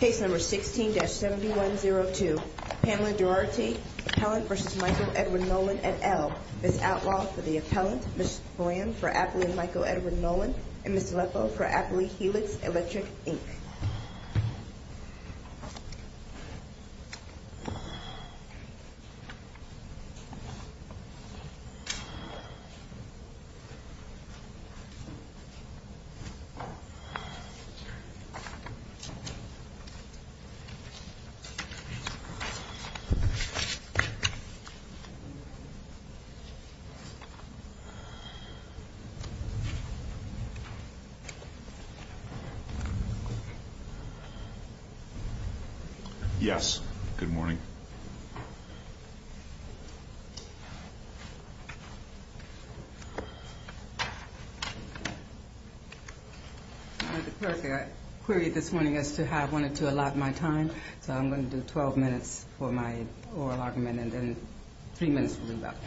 Case number 16-7102, Pamela Duarte, appellant v. Michael Edwin Nolan, et al. Ms. Outlaw for the appellant, Ms. Graham for appellant Michael Edwin Nolan, and Ms. Leffo for appellant Helix Electric, Inc. Yes, good morning. Mr. Clerk, I queried this morning as to how I wanted to allot my time, so I'm going to do 12 minutes for my oral argument, and then three minutes will do about it.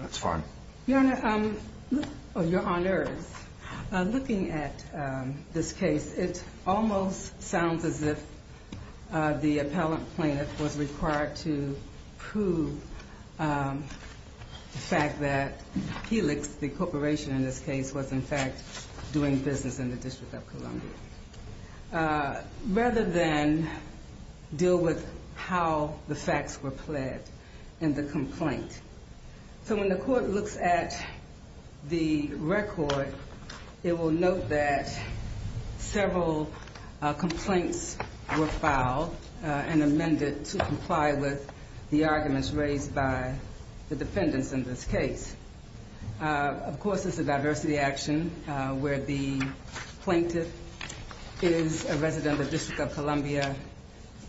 That's fine. Your Honor, looking at this case, it almost sounds as if the appellant plaintiff was required to prove the fact that Helix, the corporation in this case, was in fact doing business in the District of Columbia, rather than deal with how the facts were pled in the complaint. So when the court looks at the record, it will note that several complaints were filed and amended to comply with the arguments raised by the defendants in this case. Of course, this is a diversity action where the plaintiff is a resident of the District of Columbia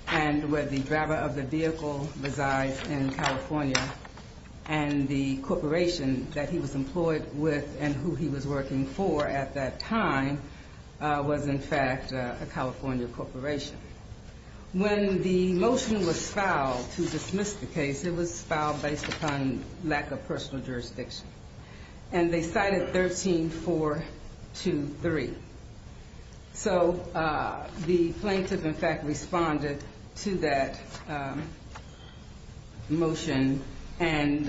and where the driver of the vehicle resides in California. And the corporation that he was employed with and who he was working for at that time was in fact a California corporation. When the motion was filed to dismiss the case, it was filed based upon lack of personal jurisdiction, and they cited 13-423. So the plaintiff in fact responded to that motion and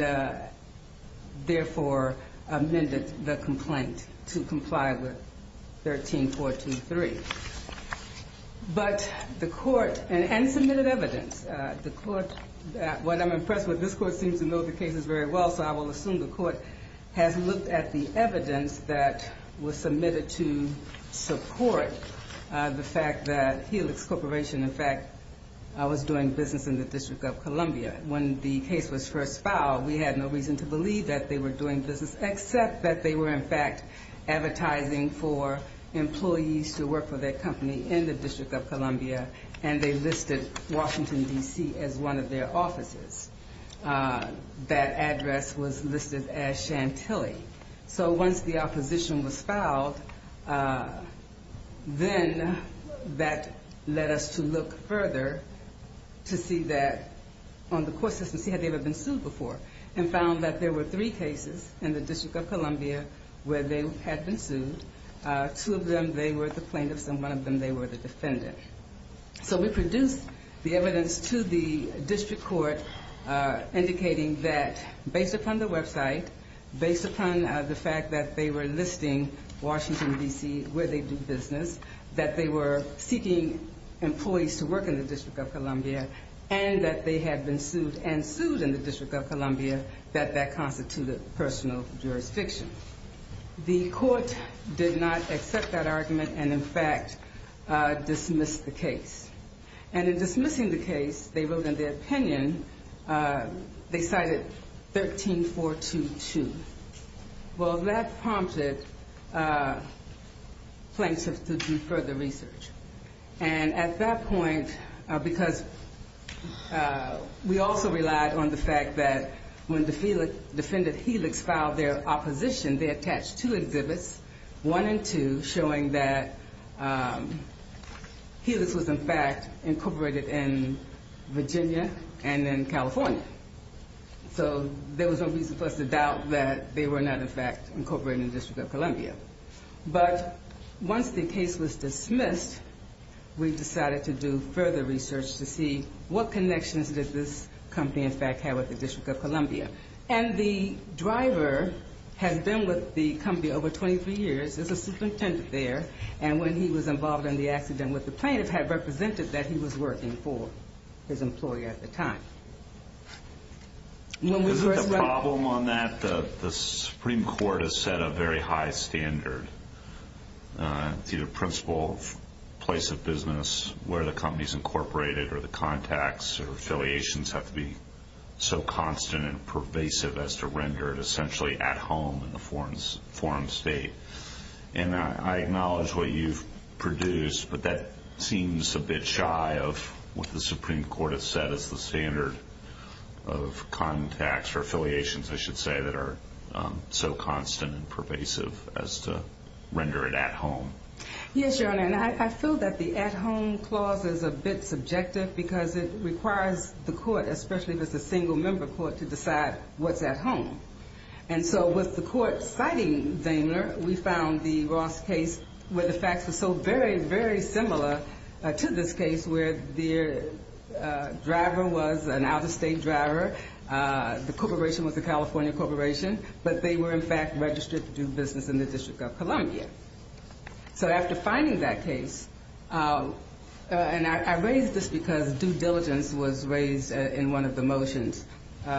therefore amended the complaint to comply with 13-423. But the court, and submitted evidence, the court, what I'm impressed with, this court seems to know the cases very well, so I will assume the court has looked at the evidence that was submitted to support the fact that Helix Corporation in fact was doing business in the District of Columbia. When the case was first filed, we had no reason to believe that they were doing business except that they were in fact advertising for employees to work for their company in the District of Columbia, and they listed Washington, D.C. as one of their offices. That address was listed as Chantilly. So once the opposition was filed, then that led us to look further to see that on the court system, see had they ever been sued before, and found that there were three cases in the District of Columbia where they had been sued. Two of them, they were the plaintiffs, and one of them, they were the defendant. So we produced the evidence to the district court indicating that based upon the website, based upon the fact that they were listing Washington, D.C., where they do business, that they were seeking employees to work in the District of Columbia, and that they had been sued and sued in the District of Columbia, that that constituted personal jurisdiction. The court did not accept that argument and, in fact, dismissed the case. And in dismissing the case, they wrote in their opinion, they cited 13-422. Well, that prompted plaintiffs to do further research. And at that point, because we also relied on the fact that when defendant Helix filed their opposition, they attached two exhibits, one and two, showing that Helix was, in fact, incorporated in Virginia and in California. So there was no reason for us to doubt that they were not, in fact, incorporated in the District of Columbia. But once the case was dismissed, we decided to do further research to see what connections did this company, in fact, have with the District of Columbia. And the driver had been with the company over 23 years as a superintendent there, and when he was involved in the accident with the plaintiff, had represented that he was working for his employer at the time. The problem on that, the Supreme Court has set a very high standard. It's either principle, place of business, where the company's incorporated, or the contacts or affiliations have to be so constant and pervasive as to render it essentially at home in the forum state. And I acknowledge what you've produced, but that seems a bit shy of what the Supreme Court has set as the standard. Of contacts or affiliations, I should say, that are so constant and pervasive as to render it at home. Yes, Your Honor, and I feel that the at-home clause is a bit subjective because it requires the court, especially if it's a single-member court, to decide what's at home. And so with the court citing Daimler, we found the Ross case where the facts were so very, very similar to this case where the driver was an out-of-state driver, the corporation was a California corporation, but they were, in fact, registered to do business in the District of Columbia. So after finding that case, and I raise this because due diligence was raised in one of the motions,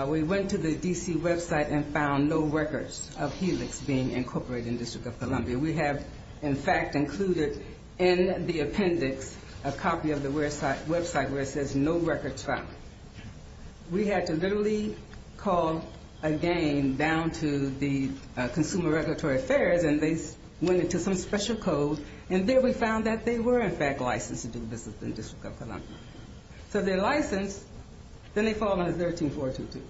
we went to the D.C. website and found no records of Helix being incorporated in the District of Columbia. We have, in fact, included in the appendix a copy of the website where it says no records found. We had to literally call again down to the Consumer Regulatory Affairs, and they went into some special code, and there we found that they were, in fact, licensed to do business in the District of Columbia. So they're licensed, then they fall under 13-422.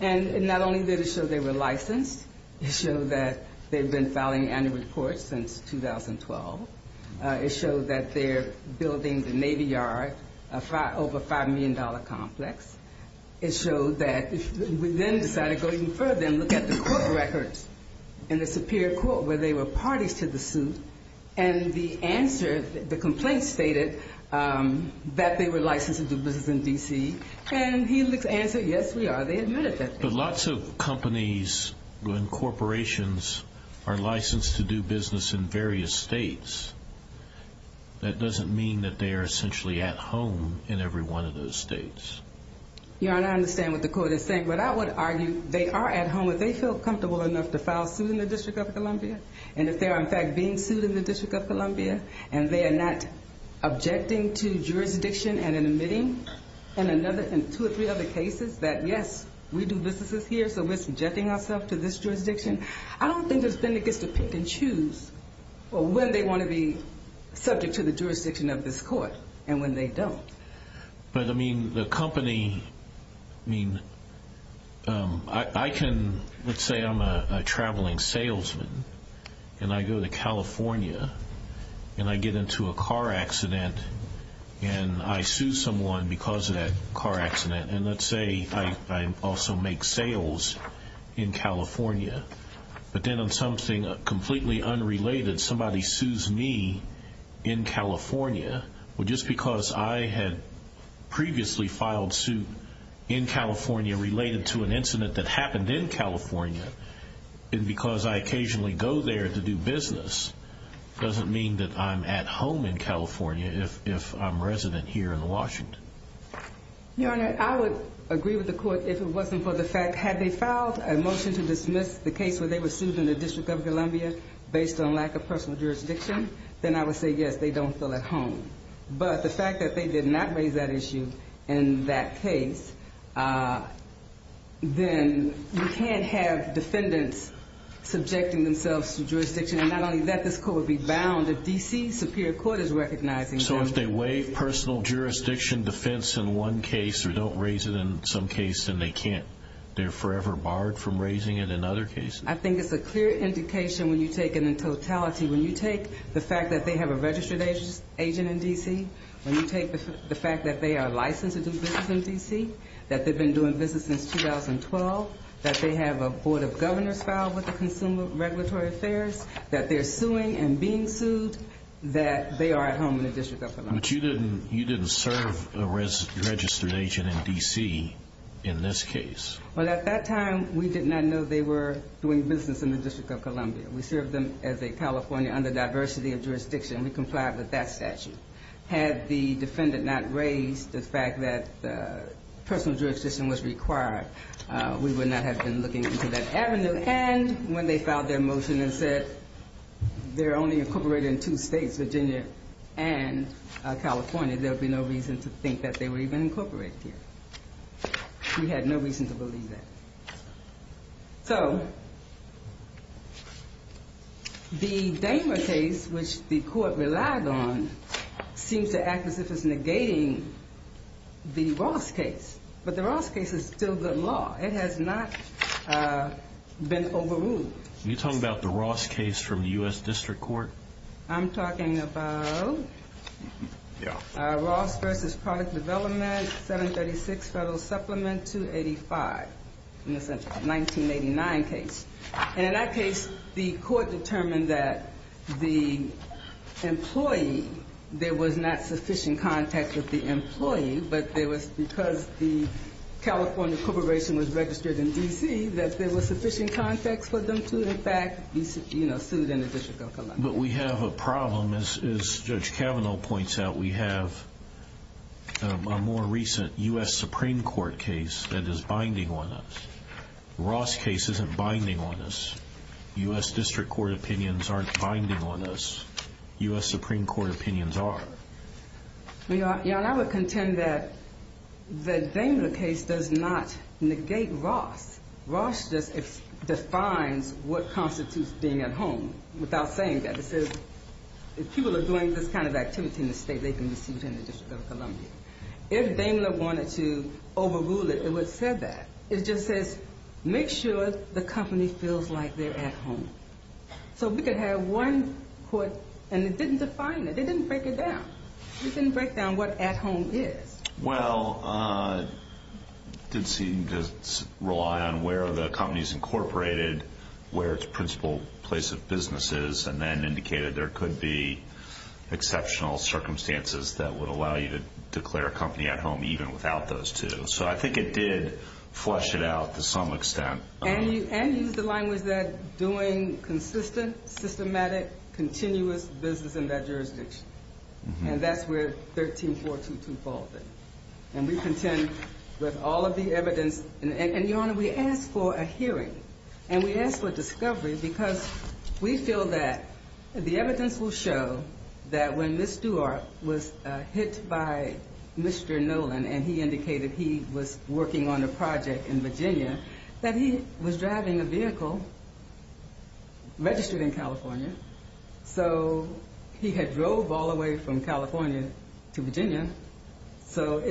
And not only did it show they were licensed, it showed that they've been filing annual reports since 2012. It showed that they're building the Navy Yard, over a $5 million complex. It showed that we then decided to go even further and look at the court records in the Superior Court where they were parties to the suit, and the answer, the complaint stated that they were licensed to do business in D.C. And Helix answered, yes, we are. They admitted that. But lots of companies and corporations are licensed to do business in various states. That doesn't mean that they are essentially at home in every one of those states. Your Honor, I understand what the court is saying, but I would argue they are at home if they feel comfortable enough to file suit in the District of Columbia, and if they are, in fact, being sued in the District of Columbia, and they are not objecting to jurisdiction and admitting in two or three other cases that, yes, we do businesses here, so we're subjecting ourselves to this jurisdiction. I don't think there's been a case to pick and choose when they want to be subject to the jurisdiction of this court and when they don't. But, I mean, the company, I mean, I can, let's say I'm a traveling salesman and I go to California and I get into a car accident and I sue someone because of that car accident, and let's say I also make sales in California, but then on something completely unrelated, somebody sues me in California, well, just because I had previously filed suit in California related to an incident that happened in California and because I occasionally go there to do business doesn't mean that I'm at home in California if I'm resident here in Washington. Your Honor, I would agree with the court if it wasn't for the fact, that had they filed a motion to dismiss the case where they were sued in the District of Columbia based on lack of personal jurisdiction, then I would say, yes, they don't feel at home. But the fact that they did not raise that issue in that case, then you can't have defendants subjecting themselves to jurisdiction, and not only that, this court would be bound if D.C.'s superior court is recognizing them. So if they waive personal jurisdiction defense in one case or don't raise it in some case, then they're forever barred from raising it in other cases? I think it's a clear indication when you take it in totality, when you take the fact that they have a registered agent in D.C., when you take the fact that they are licensed to do business in D.C., that they've been doing business since 2012, that they have a Board of Governors filed with the Consumer Regulatory Affairs, that they're suing and being sued, that they are at home in the District of Columbia. But you didn't serve a registered agent in D.C. in this case. Well, at that time, we did not know they were doing business in the District of Columbia. We served them as a California under diversity of jurisdiction. We complied with that statute. Had the defendant not raised the fact that personal jurisdiction was required, we would not have been looking into that avenue. And when they filed their motion and said they're only incorporated in two states, Virginia and California, there would be no reason to think that they were even incorporated here. We had no reason to believe that. So the Dahmer case, which the court relied on, seems to act as if it's negating the Ross case. But the Ross case is still good law. It has not been overruled. Are you talking about the Ross case from the U.S. District Court? I'm talking about Ross v. Product Development, 736 Federal Supplement 285, in the 1989 case. And in that case, the court determined that the employee, there was not sufficient contact with the employee, but it was because the California corporation was registered in D.C. that there was sufficient context for them to, in fact, be sued in the District of Columbia. But we have a problem, as Judge Kavanaugh points out. We have a more recent U.S. Supreme Court case that is binding on us. The Ross case isn't binding on us. U.S. District Court opinions aren't binding on us. U.S. Supreme Court opinions are. And I would contend that the Daimler case does not negate Ross. Ross just defines what constitutes being at home, without saying that. It says if people are doing this kind of activity in the state, they can be sued in the District of Columbia. If Daimler wanted to overrule it, it would have said that. It just says, make sure the company feels like they're at home. So we could have one court, and it didn't define it. It didn't break it down. It didn't break down what at home is. Well, it did seem to rely on where the company is incorporated, where its principal place of business is, and then indicated there could be exceptional circumstances that would allow you to declare a company at home even without those two. So I think it did flesh it out to some extent. And used the language that doing consistent, systematic, continuous business in that jurisdiction. And that's where 13-422 falls in. And we contend with all of the evidence. And, Your Honor, we ask for a hearing. And we ask for discovery because we feel that the evidence will show that when Ms. Stewart was hit by Mr. Nolan, and he indicated he was working on a project in Virginia, that he was driving a vehicle registered in California. So he had drove all the way from California to Virginia. So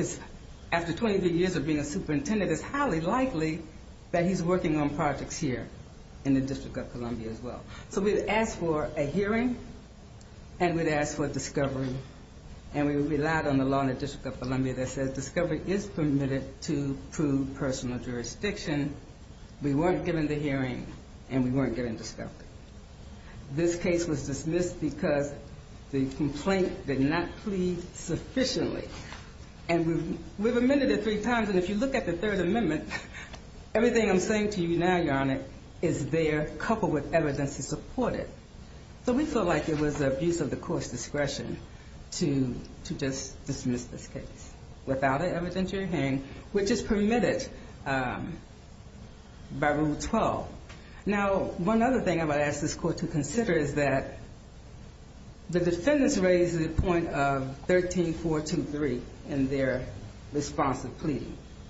after 23 years of being a superintendent, it's highly likely that he's working on projects here in the District of Columbia as well. So we'd ask for a hearing, and we'd ask for discovery. And we relied on the law in the District of Columbia that says we weren't given the hearing, and we weren't given discovery. This case was dismissed because the complaint did not plead sufficiently. And we've amended it three times, and if you look at the Third Amendment, everything I'm saying to you now, Your Honor, is there coupled with evidence to support it. So we feel like it was abuse of the Court's discretion to just dismiss this case. Without an evidentiary hearing, which is permitted by Rule 12. Now, one other thing I'm going to ask this Court to consider is that the defendants raised the point of 13-423 in their responsive plea.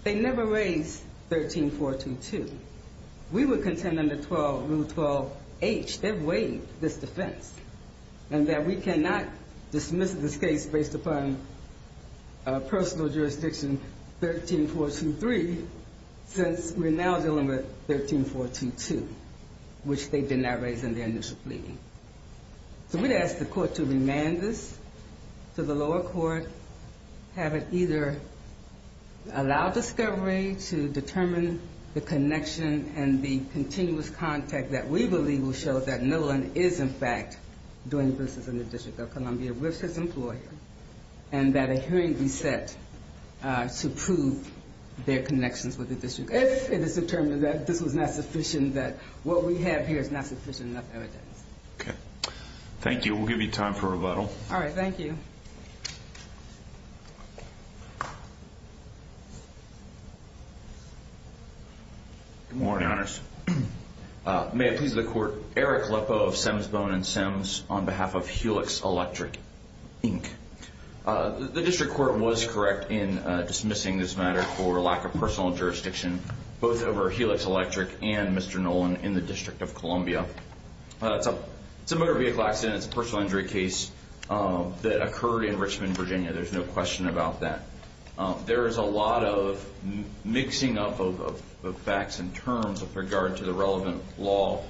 They never raised 13-422. We would contend under Rule 12-H, they've weighed this defense, and that we cannot dismiss this case based upon personal jurisdiction 13-423 since we're now dealing with 13-422, which they did not raise in their initial plea. So we'd ask the Court to remand this to the lower court, have it either allow discovery to determine the connection and the continuous contact that we believe will show that Nolan is in fact doing business in the District of Columbia with his employer and that a hearing be set to prove their connections with the District if it is determined that this was not sufficient, that what we have here is not sufficient enough evidence. Okay. Thank you. We'll give you time for rebuttal. All right. Thank you. Good morning, Honors. May it please the Court. Eric Leppo of Semsbone and Sems on behalf of Helix Electric, Inc. The District Court was correct in dismissing this matter for lack of personal jurisdiction both over Helix Electric and Mr. Nolan in the District of Columbia. It's a motor vehicle accident. It's a personal injury case that occurred in Richmond, Virginia. There's no question about that. There is a lot of mixing up of facts and terms with regard to the relevant law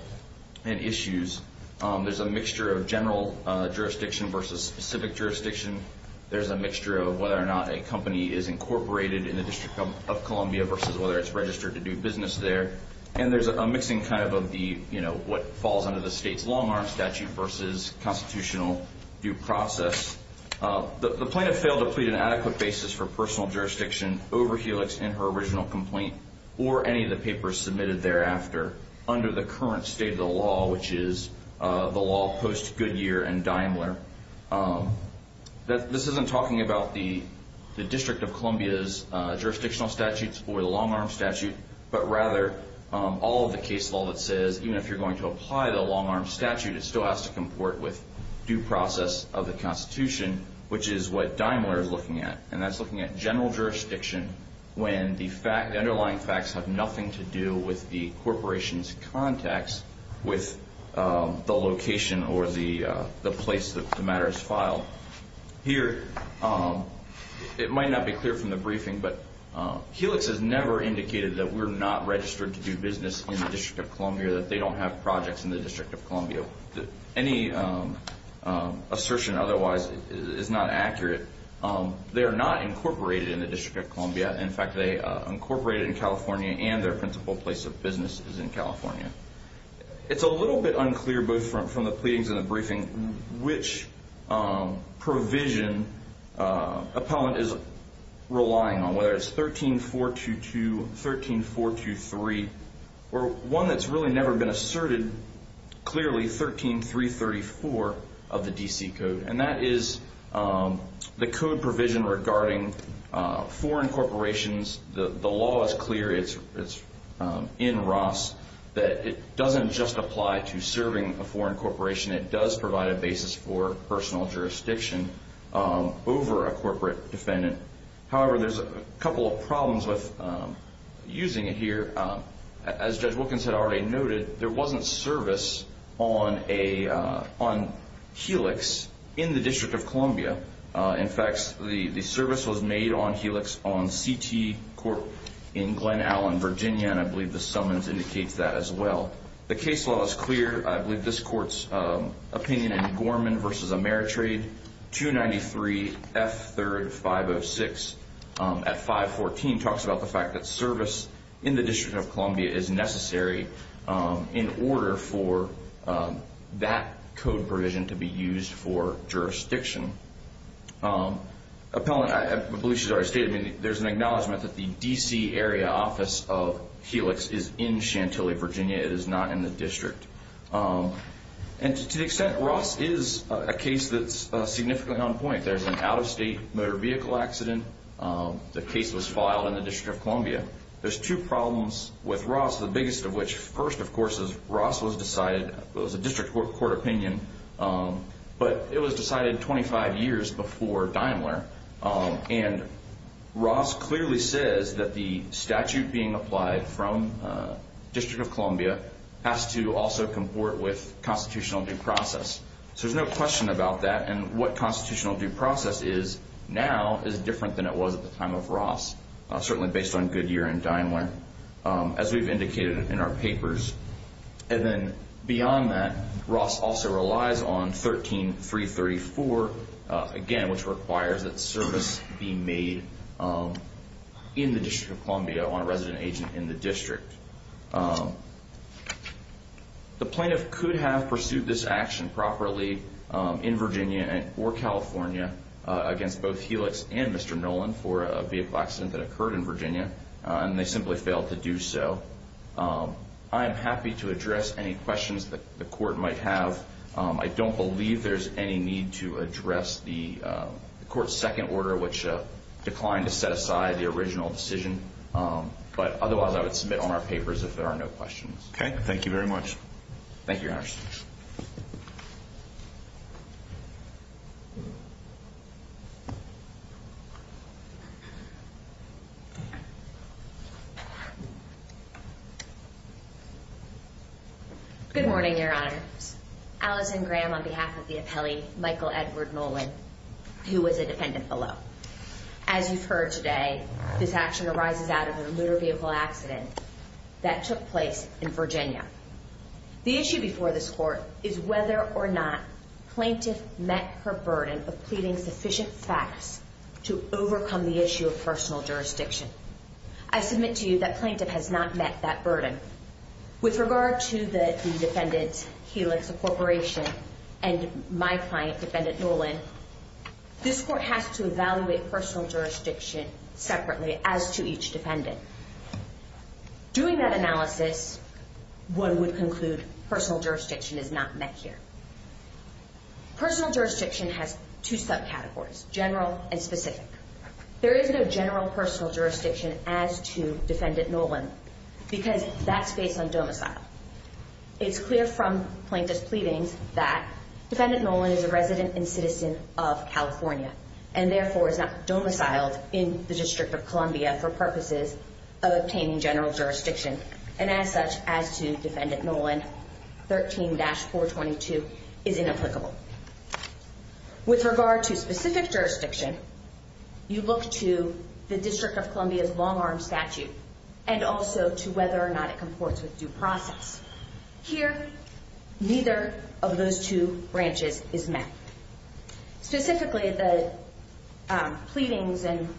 and issues. There's a mixture of general jurisdiction versus specific jurisdiction. There's a mixture of whether or not a company is incorporated in the District of Columbia versus whether it's registered to do business there. And there's a mixing kind of of what falls under the state's long-arm statute versus constitutional due process. The plaintiff failed to plead an adequate basis for personal jurisdiction over Helix in her original complaint or any of the papers submitted thereafter under the current state of the law, which is the law post Goodyear and Daimler. This isn't talking about the District of Columbia's jurisdictional statutes or the long-arm statute, but rather all of the case law that says even if you're going to apply the long-arm statute, it still has to comport with due process of the Constitution, which is what Daimler is looking at, and that's looking at general jurisdiction when the underlying facts have nothing to do with the corporation's context with the location or the place that the matter is filed. Here, it might not be clear from the briefing, but Helix has never indicated that we're not registered to do business in the District of Columbia, or that they don't have projects in the District of Columbia. Any assertion otherwise is not accurate. They are not incorporated in the District of Columbia. In fact, they are incorporated in California and their principal place of business is in California. It's a little bit unclear, both from the pleadings and the briefing, which provision appellant is relying on, whether it's 13-422, 13-423, or one that's really never been asserted clearly, 13-334 of the D.C. Code, and that is the code provision regarding foreign corporations. The law is clear in Ross that it doesn't just apply to serving a foreign corporation. It does provide a basis for personal jurisdiction over a corporate defendant. However, there's a couple of problems with using it here. As Judge Wilkins had already noted, there wasn't service on Helix in the District of Columbia. In fact, the service was made on Helix on CT Court in Glen Allen, Virginia, and I believe the summons indicates that as well. The case law is clear. I believe this court's opinion in Gorman v. Ameritrade, 293 F. 3rd 506 at 514, talks about the fact that service in the District of Columbia is necessary in order for that code provision to be used for jurisdiction. Appellant, I believe she's already stated, there's an acknowledgment that the D.C. area office of Helix is in Chantilly, Virginia. It is not in the District. And to the extent Ross is a case that's significantly on point, there's an out-of-state motor vehicle accident. The case was filed in the District of Columbia. There's two problems with Ross, the biggest of which, first, of course, is Ross was decided, it was a District Court opinion, but it was decided 25 years before Daimler. And Ross clearly says that the statute being applied from District of Columbia has to also comport with constitutional due process. So there's no question about that. And what constitutional due process is now is different than it was at the time of Ross, certainly based on Goodyear and Daimler, as we've indicated in our papers. And then beyond that, Ross also relies on 13334, again, which requires that service be made in the District of Columbia on a resident agent in the District. The plaintiff could have pursued this action properly in Virginia or California against both Helix and Mr. Nolan for a vehicle accident that occurred in Virginia, and they simply failed to do so. I am happy to address any questions that the Court might have. I don't believe there's any need to address the Court's second order, which declined to set aside the original decision. But otherwise, I would submit on our papers if there are no questions. Okay. Thank you very much. Thank you, Your Honor. Good morning, Your Honors. Allison Graham on behalf of the appellee, Michael Edward Nolan, who was a defendant below. As you've heard today, this action arises out of a motor vehicle accident that took place in Virginia. The issue before this Court is whether or not plaintiff met her burden of pleading sufficient facts to overcome the issue of personal jurisdiction. I submit to you that plaintiff has not met that burden. With regard to the defendant, Helix Corporation, and my client, defendant Nolan, this Court has to evaluate personal jurisdiction separately as to each defendant. Doing that analysis, one would conclude personal jurisdiction is not met here. Personal jurisdiction has two subcategories, general and specific. There is no general personal jurisdiction as to defendant Nolan because that's based on domicile. It's clear from plaintiff's pleadings that defendant Nolan is a resident and citizen of California and therefore is not domiciled in the District of Columbia for purposes of obtaining general jurisdiction. And as such, as to defendant Nolan, 13-422 is inapplicable. With regard to specific jurisdiction, you look to the District of Columbia's long-arm statute and also to whether or not it comports with due process. Here, neither of those two branches is met. Specifically, the pleadings and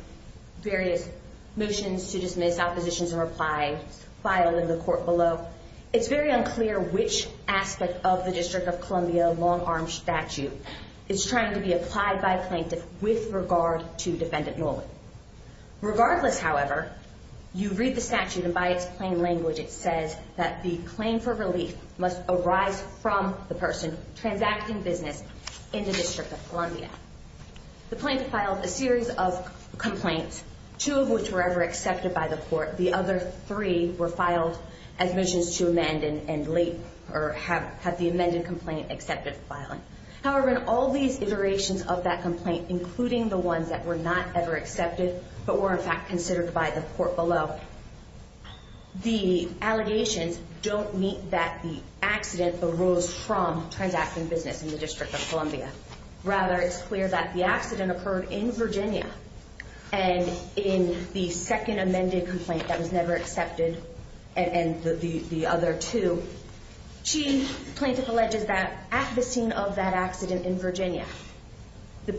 various motions to dismiss, oppositions, and reply filed in the Court below, it's very unclear which aspect of the District of Columbia long-arm statute is trying to be applied by plaintiff with regard to defendant Nolan. Regardless, however, you read the statute and by its plain language it says that the claim for relief must arise from the person transacting business in the District of Columbia. The plaintiff filed a series of complaints, two of which were ever accepted by the Court. The other three were filed as motions to amend and late, or had the amended complaint accepted the filing. However, in all these iterations of that complaint, including the ones that were not ever accepted but were in fact considered by the Court below, the allegations don't meet that the accident arose from transacting business in the District of Columbia. Rather, it's clear that the accident occurred in Virginia. And in the second amended complaint that was never accepted, and the other two, the plaintiff alleges that at the scene of that accident in Virginia, the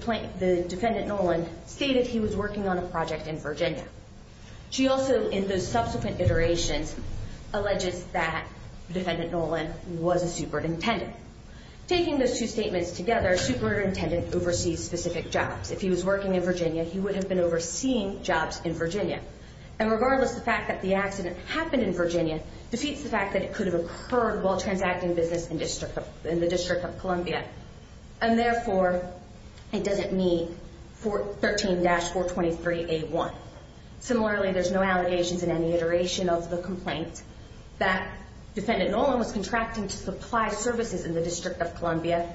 defendant Nolan stated he was working on a project in Virginia. She also, in those subsequent iterations, alleges that defendant Nolan was a superintendent. Taking those two statements together, superintendent oversees specific jobs. If he was working in Virginia, he would have been overseeing jobs in Virginia. And regardless, the fact that the accident happened in Virginia defeats the fact that it could have occurred while transacting business in the District of Columbia. And therefore, it doesn't meet 13-423A1. Similarly, there's no allegations in any iteration of the complaint that defendant Nolan was contracting to supply services in the District of Columbia,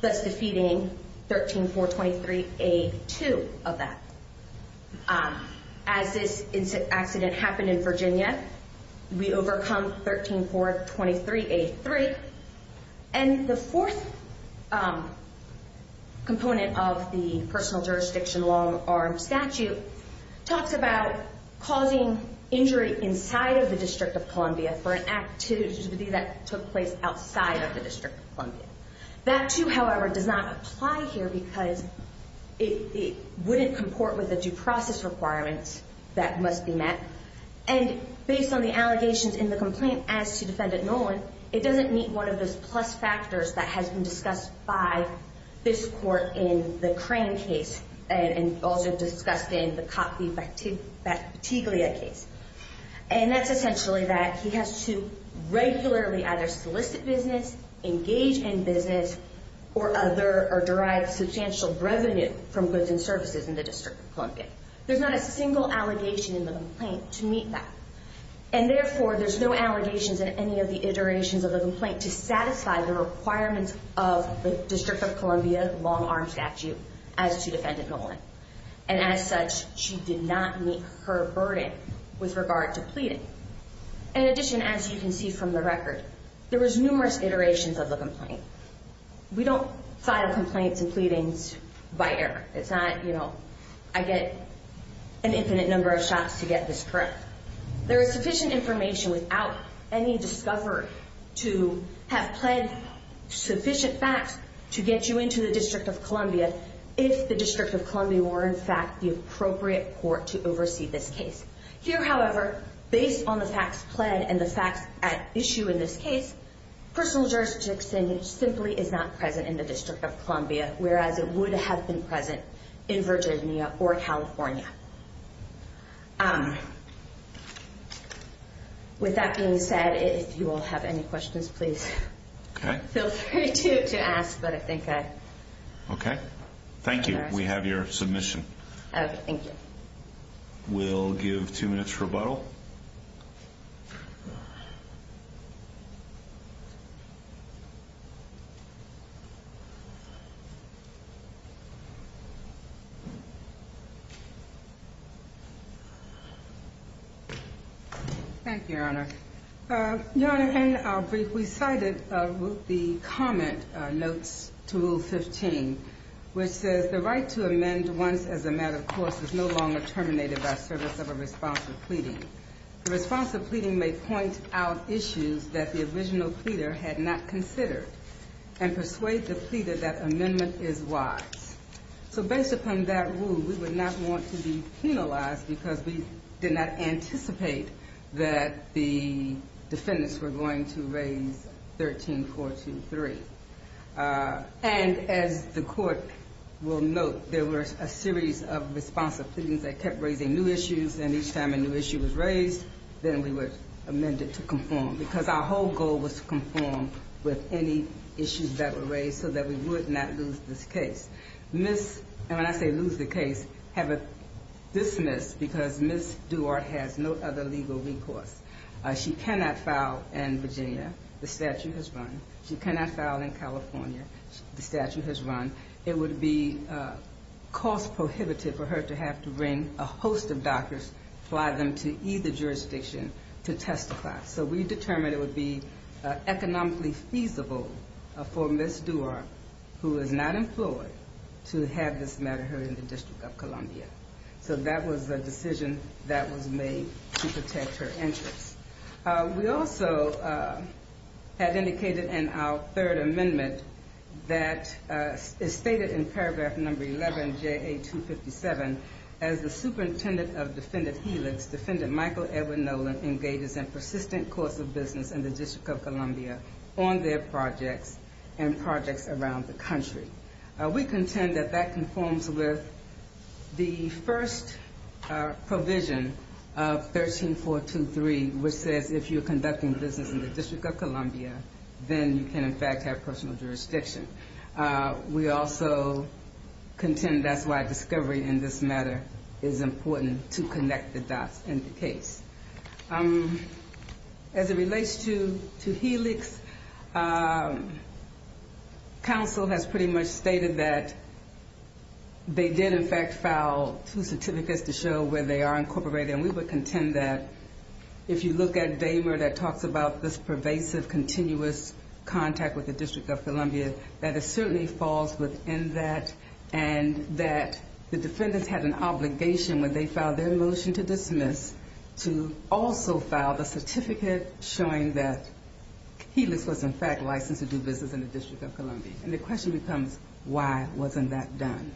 thus defeating 13-423A2 of that. As this accident happened in Virginia, we overcome 13-423A3. And the fourth component of the personal jurisdiction long-arm statute talks about causing injury inside of the District of Columbia for an activity that took place outside of the District of Columbia. That, too, however, does not apply here because it wouldn't comport with the due process requirements that must be met. And based on the allegations in the complaint as to defendant Nolan, it doesn't meet one of those plus factors that has been discussed by this court in the Crane case and also discussed in the Coffey-Batiglia case. And that's essentially that he has to regularly either solicit business, engage in business, or derive substantial revenue from goods and services in the District of Columbia. There's not a single allegation in the complaint to meet that. And therefore, there's no allegations in any of the iterations of the complaint to satisfy the requirements of the District of Columbia long-arm statute as to defendant Nolan. And as such, she did not meet her burden with regard to pleading. In addition, as you can see from the record, there was numerous iterations of the complaint. We don't file complaints and pleadings by error. It's not, you know, I get an infinite number of shots to get this correct. There is sufficient information without any discovery to have pled sufficient facts to get you into the District of Columbia if the District of Columbia were, in fact, the appropriate court to oversee this case. Here, however, based on the facts pled and the facts at issue in this case, personal jurisdiction simply is not present in the District of Columbia, whereas it would have been present in Virginia or California. With that being said, if you all have any questions, please feel free to ask, but I think I... Okay. Thank you. We have your submission. Okay. Thank you. We'll give two minutes rebuttal. Thank you, Your Honor. Your Honor, in our brief, we cited the comment notes to Rule 15, which says, the right to amend once as a matter of course is no longer terminated by service of a response to pleading. The response to pleading may point out issues that the original pleader had not considered and persuade the pleader that amendment is wise. So based upon that rule, we would not want to be penalized because we did not anticipate that the defendants were going to raise 13-423. And as the court will note, there were a series of responsive pleadings that kept raising new issues, and each time a new issue was raised, then we would amend it to conform, because our whole goal was to conform with any issues that were raised so that we would not lose this case. And when I say lose the case, have it dismissed because Ms. Duarte has no other legal recourse. She cannot file in Virginia. The statute has run. She cannot file in California. The statute has run. It would be cost-prohibitive for her to have to bring a host of doctors, fly them to either jurisdiction to testify. So we determined it would be economically feasible for Ms. Duarte, who is not employed, to have this matter heard in the District of Columbia. So that was the decision that was made to protect her interests. We also have indicated in our third amendment that it's stated in paragraph number 11, J.A. 257, as the superintendent of Defendant Helix, Defendant Michael Edward Nolan, engages in persistent course of business in the District of Columbia on their projects and projects around the country. We contend that that conforms with the first provision of 13.423, which says if you're conducting business in the District of Columbia, then you can, in fact, have personal jurisdiction. We also contend that's why discovery in this matter is important, to connect the dots in the case. As it relates to Helix, counsel has pretty much stated that they did, in fact, file two certificates to show where they are incorporated, and we would contend that if you look at that it certainly falls within that, and that the defendants had an obligation when they filed their motion to dismiss to also file the certificate showing that Helix was, in fact, licensed to do business in the District of Columbia. And the question becomes, why wasn't that done?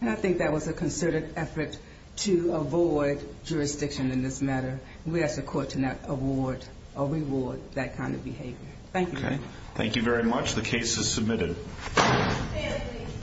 And I think that was a concerted effort to avoid jurisdiction in this matter. We ask the court to not award or reward that kind of behavior. Thank you. Thank you very much. The case is submitted.